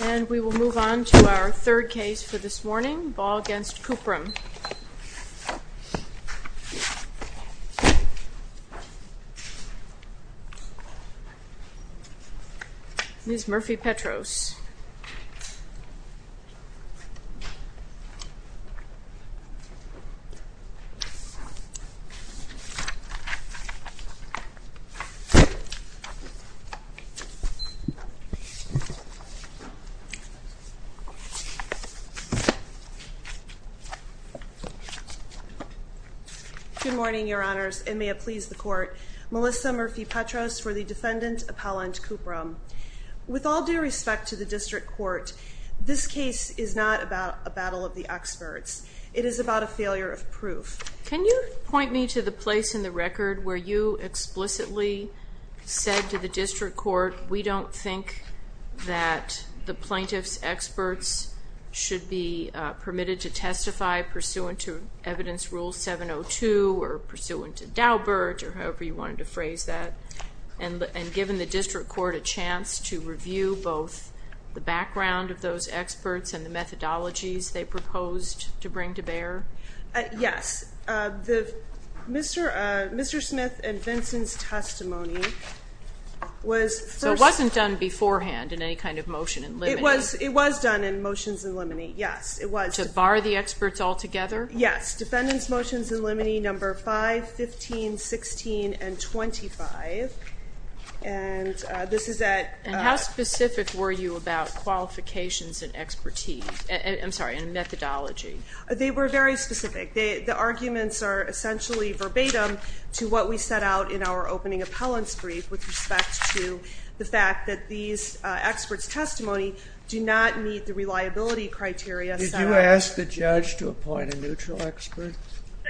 And we will move on to our third case for this morning, Baugh v. Cuprum. Ms. Murphy Petros. Good morning, Your Honors, and may it please the Court, Melissa Murphy Petros for the defendant, Appellant Cuprum. With all due respect to the District Court, this case is not about a battle of the experts. Can you point me to the place in the record where you explicitly said to the District Court, we don't think that the plaintiff's experts should be permitted to testify pursuant to Evidence Rule 702 or pursuant to Daubert, or however you wanted to phrase that, and given the District Court a chance to review both the background of those experts and the methodologies they proposed to bring to bear? Yes. Mr. Smith and Vincent's testimony was first... So it wasn't done beforehand in any kind of motion in limine? It was done in motions in limine, yes. To bar the experts altogether? Yes. Defendant's motions in limine No. 5, 15, 16, and 25, and this is at... And how specific were you about qualifications and expertise, I'm sorry, and methodology? They were very specific. The arguments are essentially verbatim to what we set out in our opening appellant's brief with respect to the fact that these experts' testimony do not meet the reliability criteria set out. Did you ask the judge to appoint a neutral expert?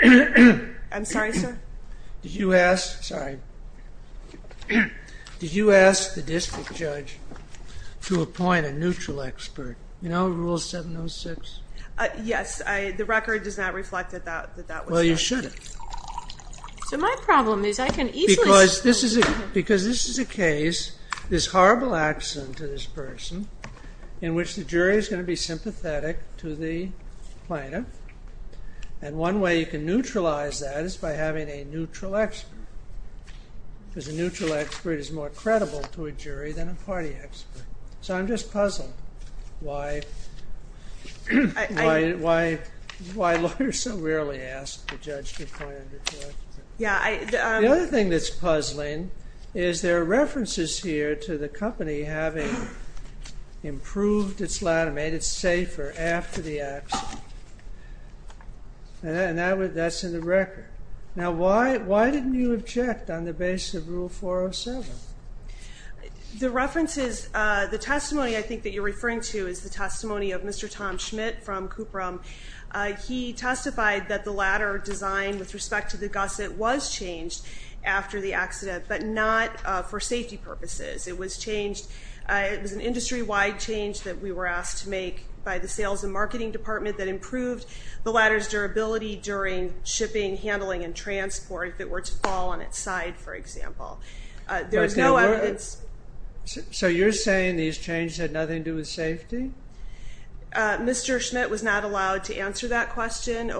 I'm sorry, sir? Did you ask the district judge to appoint a neutral expert? You know, Rule 706? Yes. The record does not reflect that that was done. Well, you should have. So my problem is I can easily... Because this is a case, this horrible accident to this person in which the jury is going to be sympathetic to the plaintiff, and one way you can neutralize that is by having a neutral expert because a neutral expert is more credible to a jury than a party expert. So I'm just puzzled why lawyers so rarely ask the judge to appoint a neutral expert. The other thing that's puzzling is there are references here to the company having improved its ladder, made it safer after the accident, and that's in the record. Now, why didn't you object on the basis of Rule 407? The references, the testimony I think that you're referring to is the testimony of Mr. Tom Schmidt from Kupram. He testified that the ladder design with respect to the gusset was changed after the accident, but not for safety purposes. It was changed, it was an industry-wide change that we were asked to make by the sales and marketing department that improved the ladder's durability during shipping, handling, and transport if it were to fall on its side, for example. There's no evidence. So you're saying these changes had nothing to do with safety? Mr. Schmidt was not allowed to answer that question.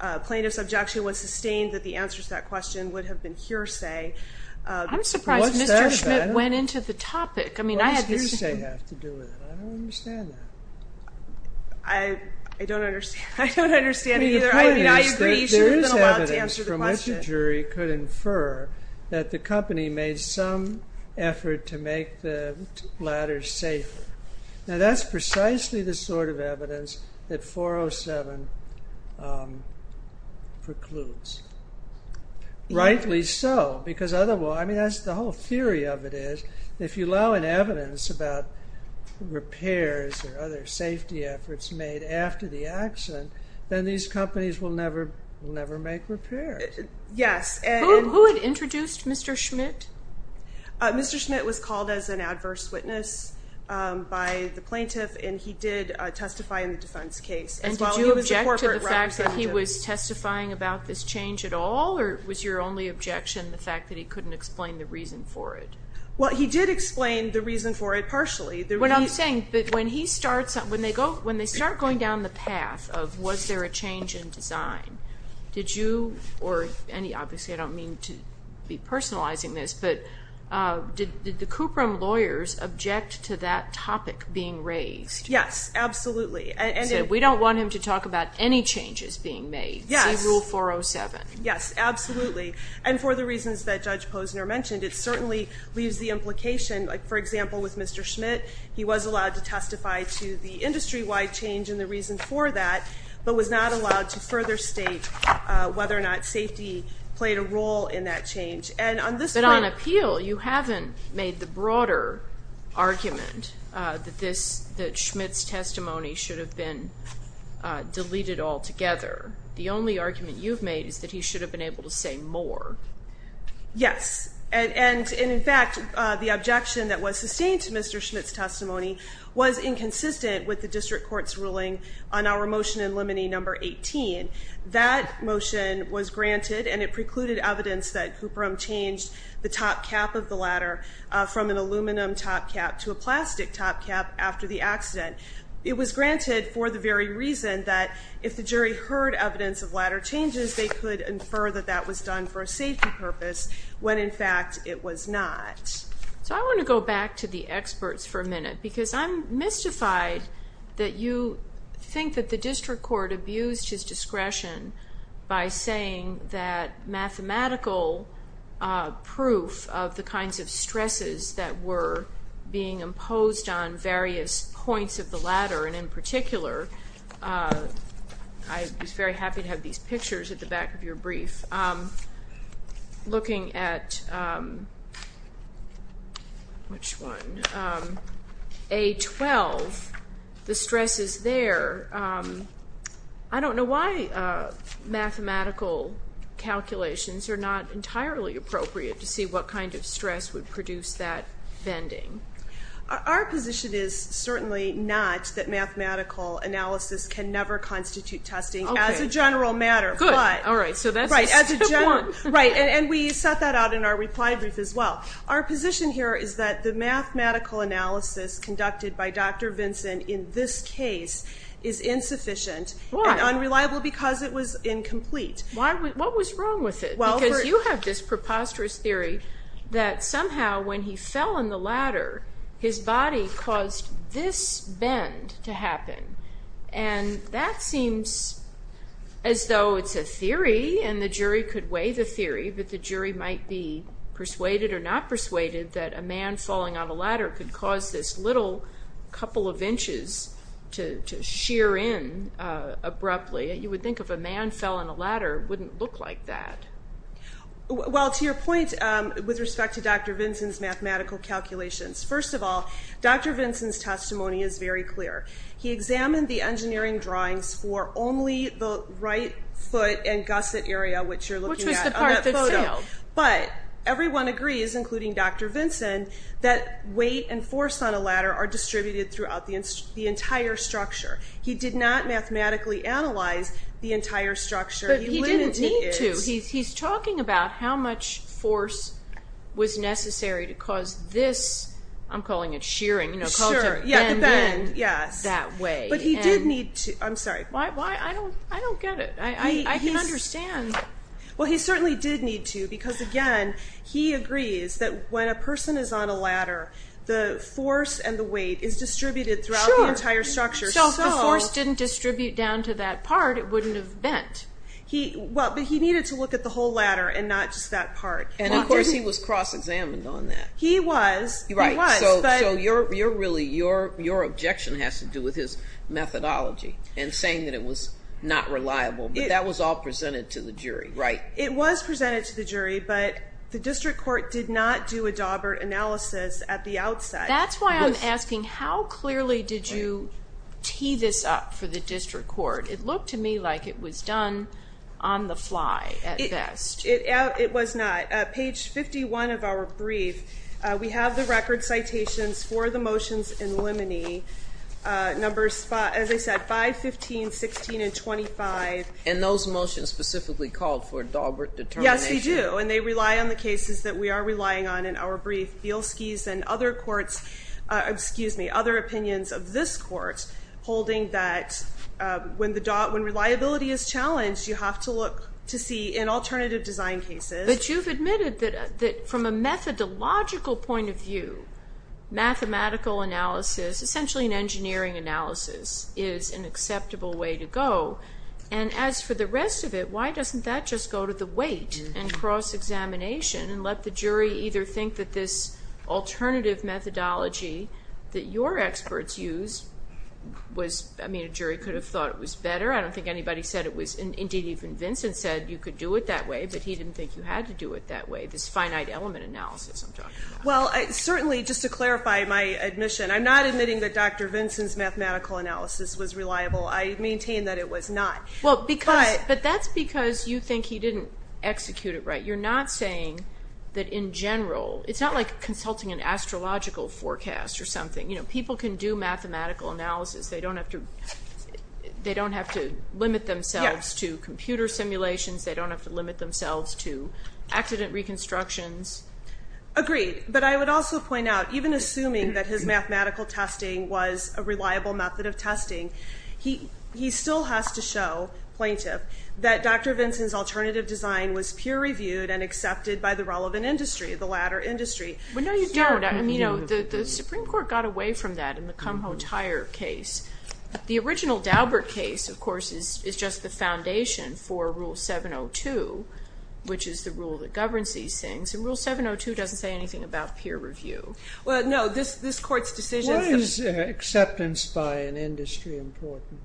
A plaintiff's objection was sustained that the answers to that question would have been hearsay. I'm surprised Mr. Schmidt went into the topic. What does hearsay have to do with it? I don't understand that. I don't understand it either. I agree you should have been allowed to answer the question. It was from which a jury could infer that the company made some effort to make the ladders safer. Now that's precisely the sort of evidence that 407 precludes. Rightly so, because otherwise, I mean, that's the whole theory of it is if you allow an evidence about repairs or other safety efforts made after the accident, then these companies will never make repairs. Who had introduced Mr. Schmidt? Mr. Schmidt was called as an adverse witness by the plaintiff, and he did testify in the defense case as well. Did you object to the fact that he was testifying about this change at all, or was your only objection the fact that he couldn't explain the reason for it? Well, he did explain the reason for it partially. What I'm saying, when they start going down the path of was there a change in design, did you or any, obviously I don't mean to be personalizing this, but did the Kuprem lawyers object to that topic being raised? Yes, absolutely. So we don't want him to talk about any changes being made. Yes. See Rule 407. Yes, absolutely. And for the reasons that Judge Posner mentioned, it certainly leaves the implication, like for example with Mr. Schmidt, he was allowed to testify to the industry-wide change and the reason for that, but was not allowed to further state whether or not safety played a role in that change. But on appeal, you haven't made the broader argument that Schmidt's testimony should have been deleted altogether. The only argument you've made is that he should have been able to say more. Yes. And, in fact, the objection that was sustained to Mr. Schmidt's testimony was inconsistent with the district court's ruling on our motion in limine number 18. That motion was granted, and it precluded evidence that Kuprem changed the top cap of the ladder from an aluminum top cap to a plastic top cap after the accident. It was granted for the very reason that if the jury heard evidence of ladder changes, they could infer that that was done for a safety purpose when, in fact, it was not. So I want to go back to the experts for a minute because I'm mystified that you think that the district court abused his discretion by saying that mathematical proof of the kinds of stresses that were being imposed on various points of the ladder, and in particular, I was very happy to have these pictures at the back of your brief, looking at A12, the stresses there. I don't know why mathematical calculations are not entirely appropriate to see what kind of stress would produce that bending. Our position is certainly not that mathematical analysis can never constitute testing as a general matter. Good. All right. So that's tip one. Right, and we set that out in our reply brief as well. Our position here is that the mathematical analysis conducted by Dr. Vinson in this case is insufficient. Why? And unreliable because it was incomplete. What was wrong with it? Because you have this preposterous theory that somehow when he fell on the ladder, his body caused this bend to happen, and that seems as though it's a theory and the jury could weigh the theory, but the jury might be persuaded or not persuaded that a man falling on a ladder could cause this little couple of inches to sheer in abruptly. You would think if a man fell on a ladder, it wouldn't look like that. Well, to your point with respect to Dr. Vinson's mathematical calculations, first of all, Dr. Vinson's testimony is very clear. He examined the engineering drawings for only the right foot and gusset area, which you're looking at on that photo. Which was the part that failed. But everyone agrees, including Dr. Vinson, that weight and force on a ladder are distributed throughout the entire structure. He did not mathematically analyze the entire structure. But he didn't need to. He's talking about how much force was necessary to cause this, I'm calling it sheering, called the bend, that way. But he did need to. I'm sorry. Why? I don't get it. I can understand. Well, he certainly did need to because, again, he agrees that when a person is on a ladder, the force and the weight is distributed throughout the entire structure. So if the force didn't distribute down to that part, it wouldn't have bent. Well, but he needed to look at the whole ladder and not just that part. And, of course, he was cross-examined on that. He was. He was. So really, your objection has to do with his methodology and saying that it was not reliable. But that was all presented to the jury, right? It was presented to the jury, but the district court did not do a Daubert analysis at the outset. That's why I'm asking, how clearly did you tee this up for the district court? It looked to me like it was done on the fly at best. It was not. Page 51 of our brief, we have the record citations for the motions in limine. Numbers, as I said, 5, 15, 16, and 25. And those motions specifically called for a Daubert determination? Yes, they do. And they rely on the cases that we are relying on in our brief. Bielski's and other opinions of this court holding that when reliability is challenged, you have to look to see in alternative design cases. But you've admitted that from a methodological point of view, mathematical analysis, essentially an engineering analysis, is an acceptable way to go. And as for the rest of it, why doesn't that just go to the weight and cross-examination and let the jury either think that this alternative methodology that your experts used was, I mean, a jury could have thought it was better. I don't think anybody said it was. Indeed, even Vincent said you could do it that way, but he didn't think you had to do it that way, this finite element analysis I'm talking about. Well, certainly, just to clarify my admission, I'm not admitting that Dr. Vincent's mathematical analysis was reliable. I maintain that it was not. But that's because you think he didn't execute it right. But you're not saying that in general, it's not like consulting an astrological forecast or something. People can do mathematical analysis. They don't have to limit themselves to computer simulations. They don't have to limit themselves to accident reconstructions. Agreed. But I would also point out, even assuming that his mathematical testing was a reliable method of testing, he still has to show, plaintiff, that Dr. Vincent's alternative design was peer-reviewed and accepted by the relevant industry, the latter industry. But no, you don't. I mean, you know, the Supreme Court got away from that in the Kumho-Tyre case. The original Daubert case, of course, is just the foundation for Rule 702, which is the rule that governs these things. And Rule 702 doesn't say anything about peer review. Well, no, this Court's decision... Why is acceptance by an industry important?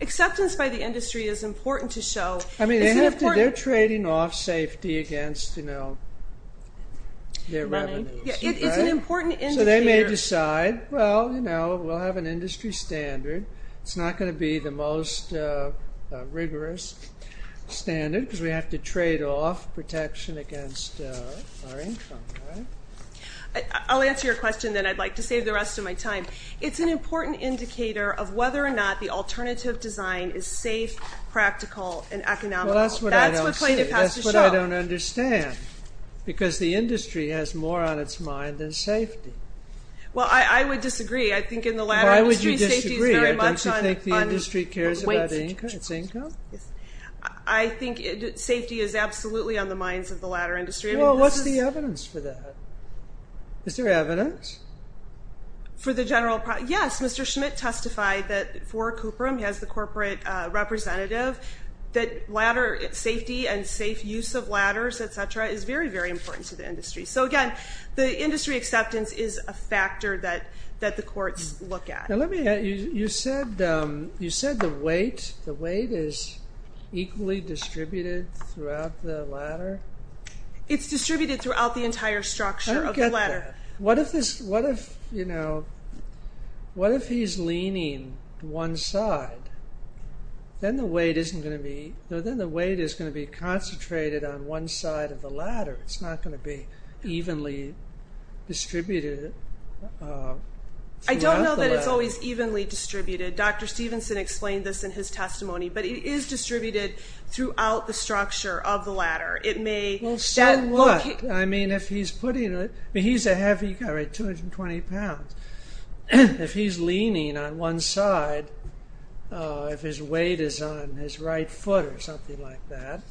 Acceptance by the industry is important to show... I mean, they're trading off safety against, you know, their revenues. It's an important industry. So they may decide, well, you know, we'll have an industry standard. It's not going to be the most rigorous standard because we have to trade off protection against our income. I'll answer your question, then I'd like to save the rest of my time. It's an important indicator of whether or not the alternative design is safe, practical, and economical. Well, that's what I don't see. That's what plaintiff has to show. That's what I don't understand because the industry has more on its mind than safety. Well, I would disagree. I think in the latter industry, safety is very much on... Why would you disagree? Don't you think the industry cares about its income? I think safety is absolutely on the minds of the latter industry. Well, what's the evidence for that? Is there evidence? For the general... Yes, Mr. Schmidt testified that for Coopram, he has the corporate representative, that safety and safe use of ladders, et cetera, is very, very important to the industry. So, again, the industry acceptance is a factor that the courts look at. The weight is equally distributed throughout the ladder? It's distributed throughout the entire structure of the ladder. I don't get that. What if he's leaning one side? Then the weight is going to be concentrated on one side of the ladder. It's not going to be evenly distributed throughout the ladder. I don't know that it's always evenly distributed. Dr. Stevenson explained this in his testimony, but it is distributed throughout the structure of the ladder. It may... Well, so what? I mean, if he's putting... He's a heavy guy, right, 220 pounds. If he's leaning on one side, if his weight is on his right foot or something like that,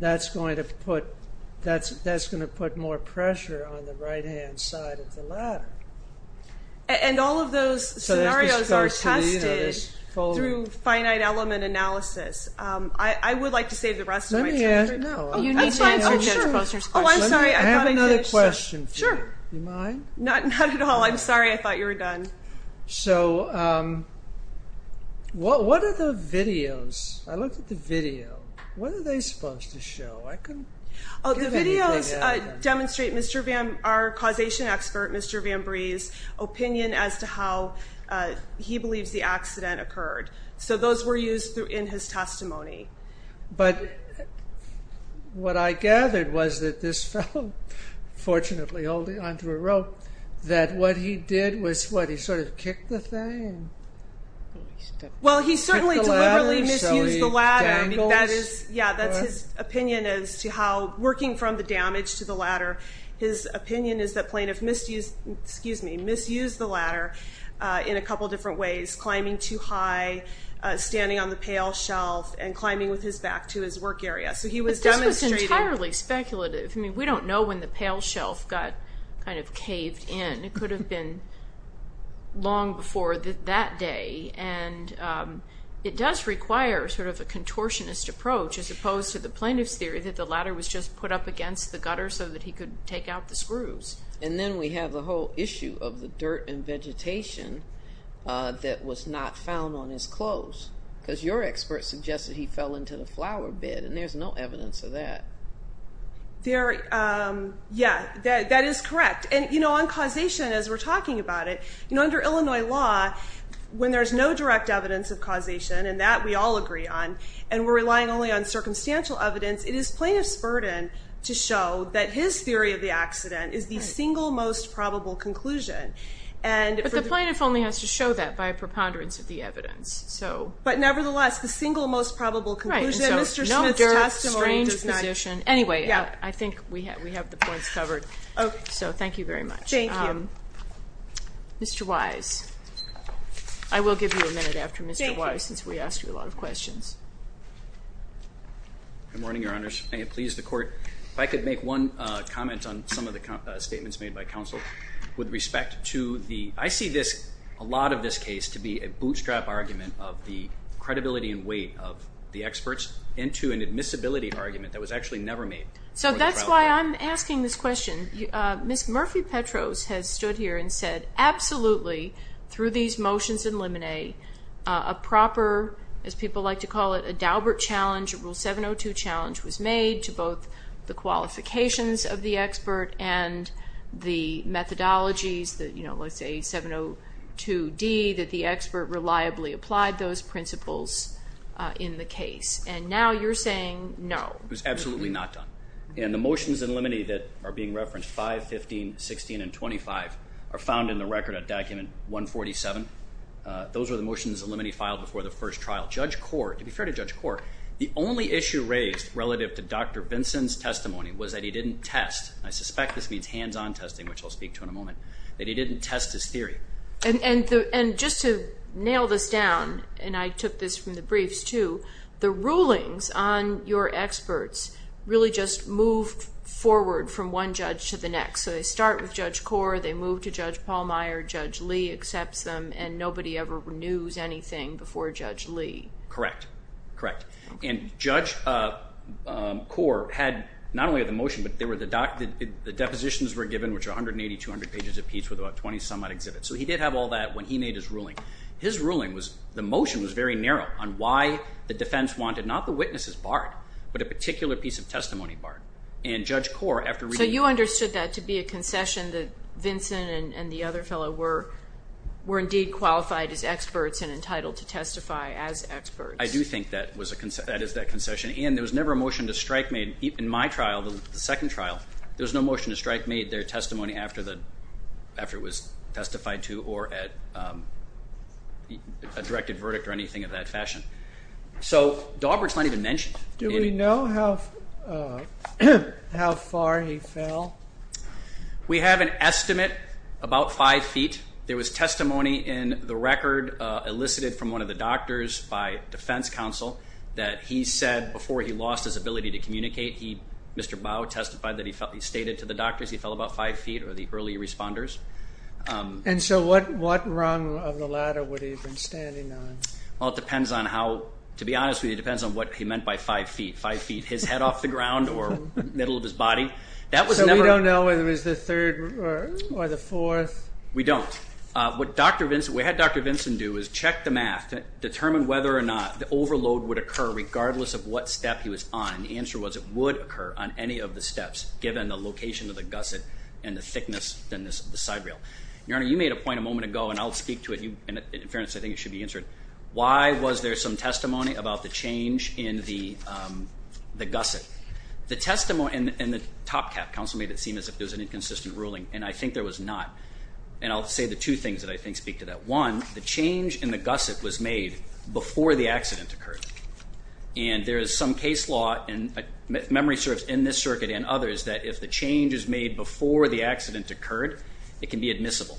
that's going to put more pressure on the right-hand side of the ladder. And all of those scenarios are tested through finite element analysis. I would like to save the rest of my time. You need to answer Judge Foster's question. Oh, I'm sorry. I have another question for you. Sure. Do you mind? Not at all. I'm sorry. I thought you were done. So what are the videos? I looked at the video. What are they supposed to show? The videos demonstrate our causation expert, Mr. VanBreeze, opinion as to how he believes the accident occurred. So those were used in his testimony. But what I gathered was that this fellow, fortunately holding onto a rope, that what he did was, what, he sort of kicked the thing? Well, he certainly deliberately misused the ladder. So he dangles? Yeah, that's his opinion as to how, working from the damage to the ladder, his opinion is that plaintiff misused the ladder in a couple different ways, climbing too high, standing on the pale shelf, and climbing with his back to his work area. So he was demonstrating. But this was entirely speculative. I mean, we don't know when the pale shelf got kind of caved in. It could have been long before that day. And it does require sort of a contortionist approach as opposed to the plaintiff's theory that the ladder was just put up against the gutter so that he could take out the screws. And then we have the whole issue of the dirt and vegetation that was not found on his clothes because your expert suggested he fell into the flower bed, and there's no evidence of that. Yeah, that is correct. And, you know, on causation, as we're talking about it, you know, under Illinois law, when there's no direct evidence of causation, and that we all agree on, and we're relying only on circumstantial evidence, it is plaintiff's burden to show that his theory of the accident is the single most probable conclusion. But the plaintiff only has to show that by a preponderance of the evidence. But nevertheless, the single most probable conclusion. Right, and so no dirt, strange position. Anyway, I think we have the points covered. So thank you very much. Thank you. Mr. Wise, I will give you a minute after Mr. Wise since we asked you a lot of questions. Good morning, Your Honors. May it please the Court, if I could make one comment on some of the statements made by counsel with respect to the I see this, a lot of this case, to be a bootstrap argument of the credibility and weight of the experts into an admissibility argument that was actually never made. So that's why I'm asking this question. Ms. Murphy-Petros has stood here and said, absolutely, through these motions in limine, a proper, as people like to call it, a Daubert challenge, Rule 702 challenge, was made to both the qualifications of the expert and the methodologies, let's say 702D, that the expert reliably applied those principles in the case. And now you're saying no. It was absolutely not done. And the motions in limine that are being referenced, 5, 15, 16, and 25, are found in the record at Document 147. Those are the motions in limine filed before the first trial. Judge Korr, to be fair to Judge Korr, the only issue raised relative to Dr. Vinson's testimony was that he didn't test, and I suspect this means hands-on testing, which I'll speak to in a moment, that he didn't test his theory. And just to nail this down, and I took this from the briefs too, the rulings on your experts really just moved forward from one judge to the next. So they start with Judge Korr, they move to Judge Pallmeyer, Judge Lee accepts them, and nobody ever renews anything before Judge Lee. Correct. Correct. And Judge Korr had not only the motion, but the depositions were given, which are 180-200 pages apiece with about 20-some odd exhibits. So he did have all that when he made his ruling. His ruling was the motion was very narrow on why the defense wanted not the witnesses barred, but a particular piece of testimony barred. So you understood that to be a concession that Vinson and the other fellow were indeed qualified as experts and entitled to testify as experts. I do think that is that concession. And there was never a motion to strike made in my trial, the second trial, there was no motion to strike made their testimony after it was testified to or a directed verdict or anything of that fashion. So Dawberg's not even mentioned. Do we know how far he fell? We have an estimate about five feet. There was testimony in the record elicited from one of the doctors by defense counsel that he said before he lost his ability to communicate, Mr. Bowe testified that he stated to the doctors he fell about five feet or the early responders. And so what rung of the ladder would he have been standing on? Well, it depends on how, to be honest with you, it depends on what he meant by five feet. Five feet, his head off the ground or middle of his body. So we don't know whether it was the third or the fourth? We don't. What we had Dr. Vinson do is check the math, determine whether or not the overload would occur regardless of what step he was on. And the answer was it would occur on any of the steps, given the location of the gusset and the thickness of the side rail. Your Honor, you made a point a moment ago, and I'll speak to it, and in fairness I think it should be answered. Why was there some testimony about the change in the gusset? The testimony in the top cap counsel made it seem as if there was an inconsistent ruling, and I think there was not. And I'll say the two things that I think speak to that. One, the change in the gusset was made before the accident occurred. And there is some case law, and memory serves in this circuit and others, that if the change is made before the accident occurred, it can be admissible.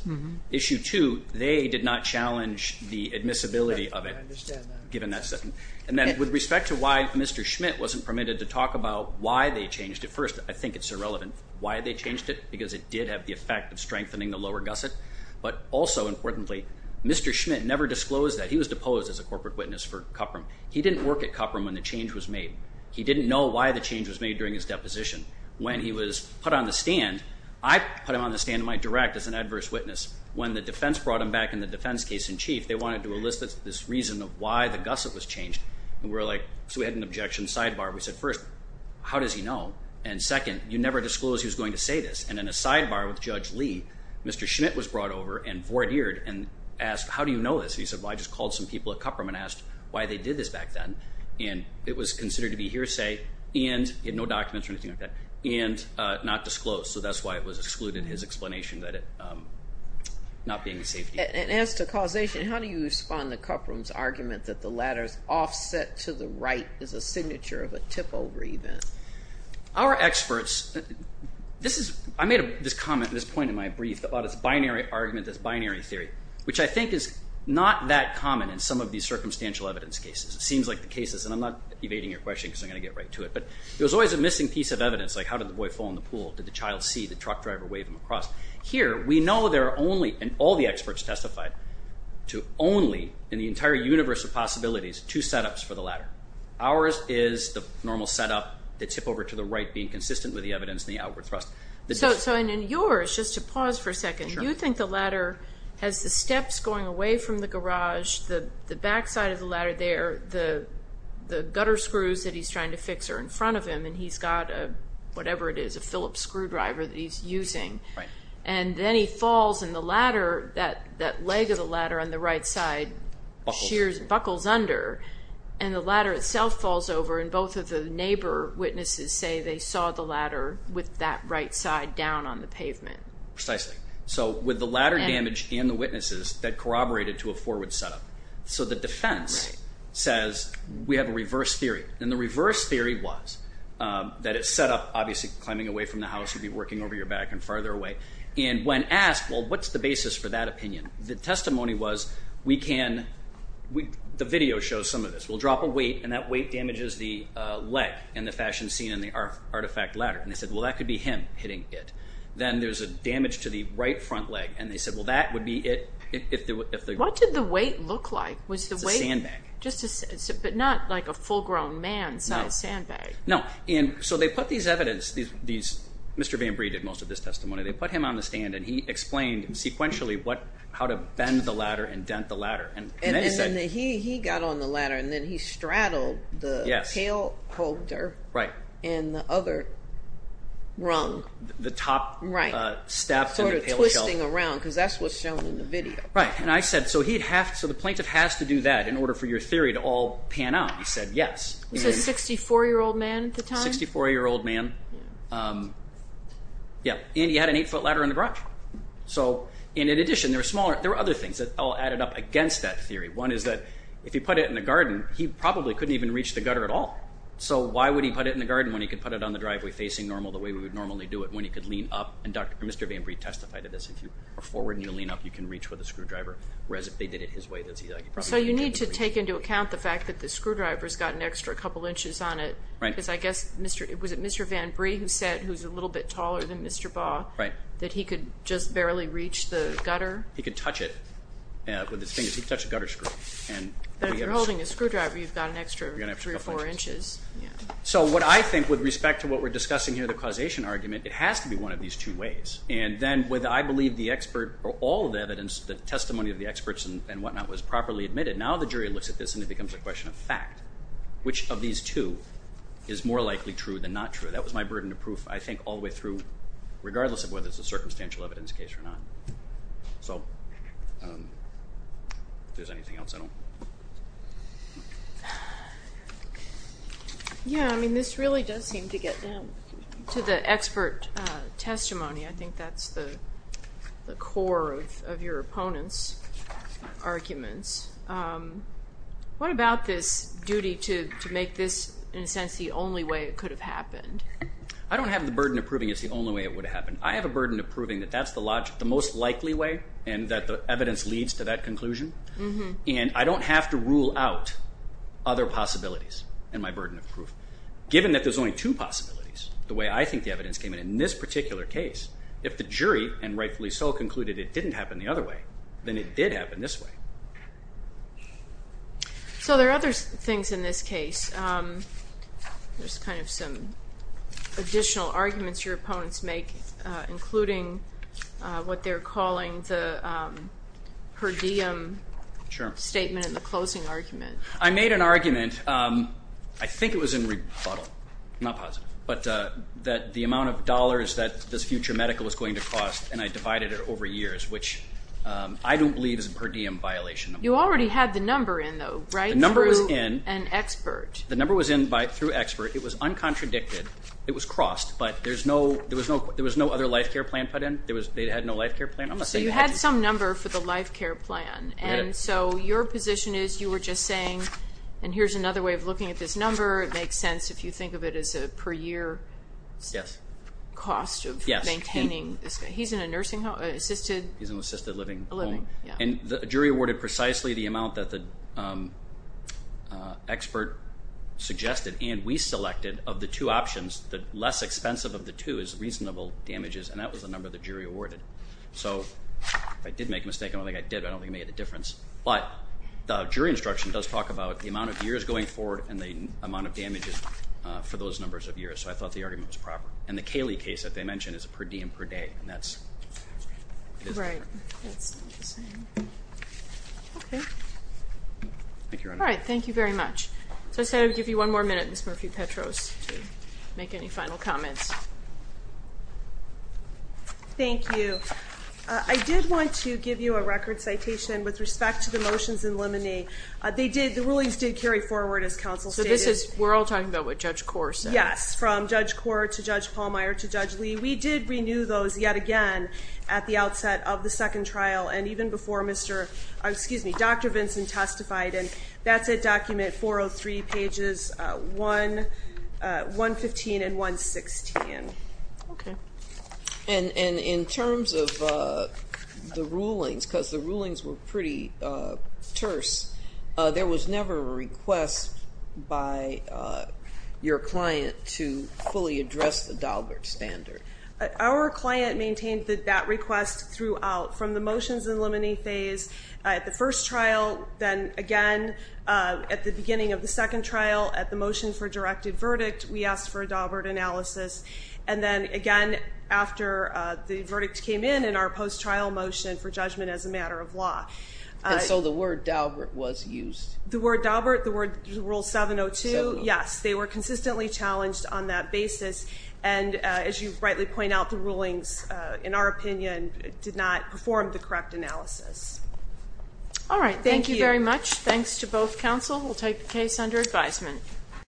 Issue two, they did not challenge the admissibility of it. I understand that. And then with respect to why Mr. Schmidt wasn't permitted to talk about why they changed it. First, I think it's irrelevant why they changed it, because it did have the effect of strengthening the lower gusset. But also importantly, Mr. Schmidt never disclosed that. He was deposed as a corporate witness for Cupram. He didn't work at Cupram when the change was made. He didn't know why the change was made during his deposition. When he was put on the stand, I put him on the stand in my direct as an adverse witness. When the defense brought him back in the defense case in chief, they wanted to elicit this reason of why the gusset was changed. So we had an objection sidebar. We said, first, how does he know? And second, you never disclosed he was going to say this. And in a sidebar with Judge Lee, Mr. Schmidt was brought over and voir dired and asked, how do you know this? He said, well, I just called some people at Cupram and asked why they did this back then. And it was considered to be hearsay, and he had no documents or anything like that, and not disclosed. So that's why it was excluded in his explanation that it not being a safety. And as to causation, how do you respond to Cupram's argument that the latter's offset to the right is a signature of a tip-over event? Our experts, this is, I made this comment at this point in my brief about this binary argument, this binary theory, which I think is not that common in some of these circumstantial evidence cases. It seems like the cases, and I'm not evading your question because I'm going to get right to it, but there's always a missing piece of evidence, like how did the boy fall in the pool? Did the child see the truck driver wave him across? Here, we know there are only, and all the experts testified to only, in the entire universe of possibilities, two setups for the latter. Ours is the normal setup, the tip-over to the right being consistent with the evidence and the outward thrust. So in yours, just to pause for a second, you think the latter has the steps going away from the garage, the backside of the latter there, the gutter screws that he's trying to fix are in front of him, and he's got a, whatever it is, a Phillips screwdriver that he's using, and then he falls, and the latter, that leg of the latter on the right side buckles under, and the latter itself falls over, and both of the neighbor witnesses say they saw the latter with that right side down on the pavement. Precisely. So with the latter damaged and the witnesses, that corroborated to a forward setup. So the defense says we have a reverse theory, and the reverse theory was that it's set up, obviously, climbing away from the house, you'd be working over your back and farther away, and when asked, well, what's the basis for that opinion? The testimony was we can, the video shows some of this. We'll drop a weight, and that weight damages the leg in the fashion scene in the artifact latter, and they said, well, that could be him hitting it. Then there's a damage to the right front leg, and they said, well, that would be it. What did the weight look like? It's a sandbag. But not like a full-grown man's sandbag. No. So they put these evidence, Mr. Van Bree did most of this testimony, they put him on the stand, and he explained sequentially how to bend the latter and dent the latter. And then he got on the latter, and then he straddled the tail holder and the other rung. The top step in the tail shelf. That's what's shown in the video. Right, and I said, so the plaintiff has to do that in order for your theory to all pan out. He said yes. He was a 64-year-old man at the time? A 64-year-old man. And he had an 8-foot latter in the garage. In addition, there were other things that all added up against that theory. One is that if he put it in the garden, he probably couldn't even reach the gutter at all. So why would he put it in the garden when he could put it on the driveway facing normal the way we would normally do it when he could lean up? And Mr. VanBree testified to this. If you are forward and you lean up, you can reach with a screwdriver, whereas if they did it his way, he probably couldn't reach. So you need to take into account the fact that the screwdriver's got an extra couple inches on it, because I guess, was it Mr. VanBree who said, who's a little bit taller than Mr. Baugh, that he could just barely reach the gutter? He could touch it with his fingers. He could touch the gutter screw. If you're holding a screwdriver, you've got an extra three or four inches. So what I think with respect to what we're discussing here, the causation argument, it has to be one of these two ways. And then with, I believe, the expert or all of the evidence, the testimony of the experts and whatnot was properly admitted, now the jury looks at this and it becomes a question of fact. Which of these two is more likely true than not true? That was my burden of proof, I think, all the way through, regardless of whether it's a circumstantial evidence case or not. So if there's anything else, I don't... Yeah, I mean, this really does seem to get down to the expert testimony. I think that's the core of your opponent's arguments. What about this duty to make this, in a sense, the only way it could have happened? I don't have the burden of proving it's the only way it would have happened. I have a burden of proving that that's the most likely way and that the evidence leads to that conclusion. And I don't have to rule out other possibilities in my burden of proof. Given that there's only two possibilities, the way I think the evidence came in in this particular case, if the jury, and rightfully so, concluded it didn't happen the other way, then it did happen this way. So there are other things in this case. There's kind of some additional arguments your opponents make, including what they're calling the per diem statement and the closing argument. I made an argument, I think it was in rebuttal, not positive, but that the amount of dollars that this future medical was going to cost, and I divided it over years, which I don't believe is a per diem violation. You already had the number in, though, right? The number was in. Through an expert. The number was in through expert. It was uncontradicted. It was crossed. But there was no other life care plan put in. They had no life care plan. So you had some number for the life care plan. And so your position is you were just saying, and here's another way of looking at this number, it makes sense if you think of it as a per year cost of maintaining this guy. He's in an assisted living home. And the jury awarded precisely the amount that the expert suggested, and we selected, of the two options. The less expensive of the two is reasonable damages, and that was the number the jury awarded. So if I did make a mistake, I don't think I did, I don't think it made a difference. But the jury instruction does talk about the amount of years going forward and the amount of damages for those numbers of years. So I thought the argument was proper. And the Cayley case that they mentioned is a per diem per day, and that's. Right. That's not the same. Okay. Thank you, Your Honor. All right, thank you very much. So I say I would give you one more minute, Ms. Murphy-Petros, to make any final comments. Thank you. I did want to give you a record citation with respect to the motions in limine. The rulings did carry forward, as counsel stated. So we're all talking about what Judge Korr said. Yes, from Judge Korr to Judge Pallmeyer to Judge Lee. We did renew those yet again at the outset of the second trial and even before Dr. Vinson testified. And that's at document 403, pages 115 and 116. Okay. And in terms of the rulings, because the rulings were pretty terse, there was never a request by your client to fully address the Daubert standard. Our client maintained that request throughout. From the motions in limine phase at the first trial, then again at the beginning of the second trial at the motion for directed verdict, we asked for a Daubert analysis. And then again after the verdict came in in our post-trial motion for judgment as a matter of law. And so the word Daubert was used? The word Daubert, the rule 702, yes. They were consistently challenged on that basis. And as you rightly point out, the rulings, in our opinion, did not perform the correct analysis. All right. Thank you very much. Thanks to both counsel. We'll take the case under advisement.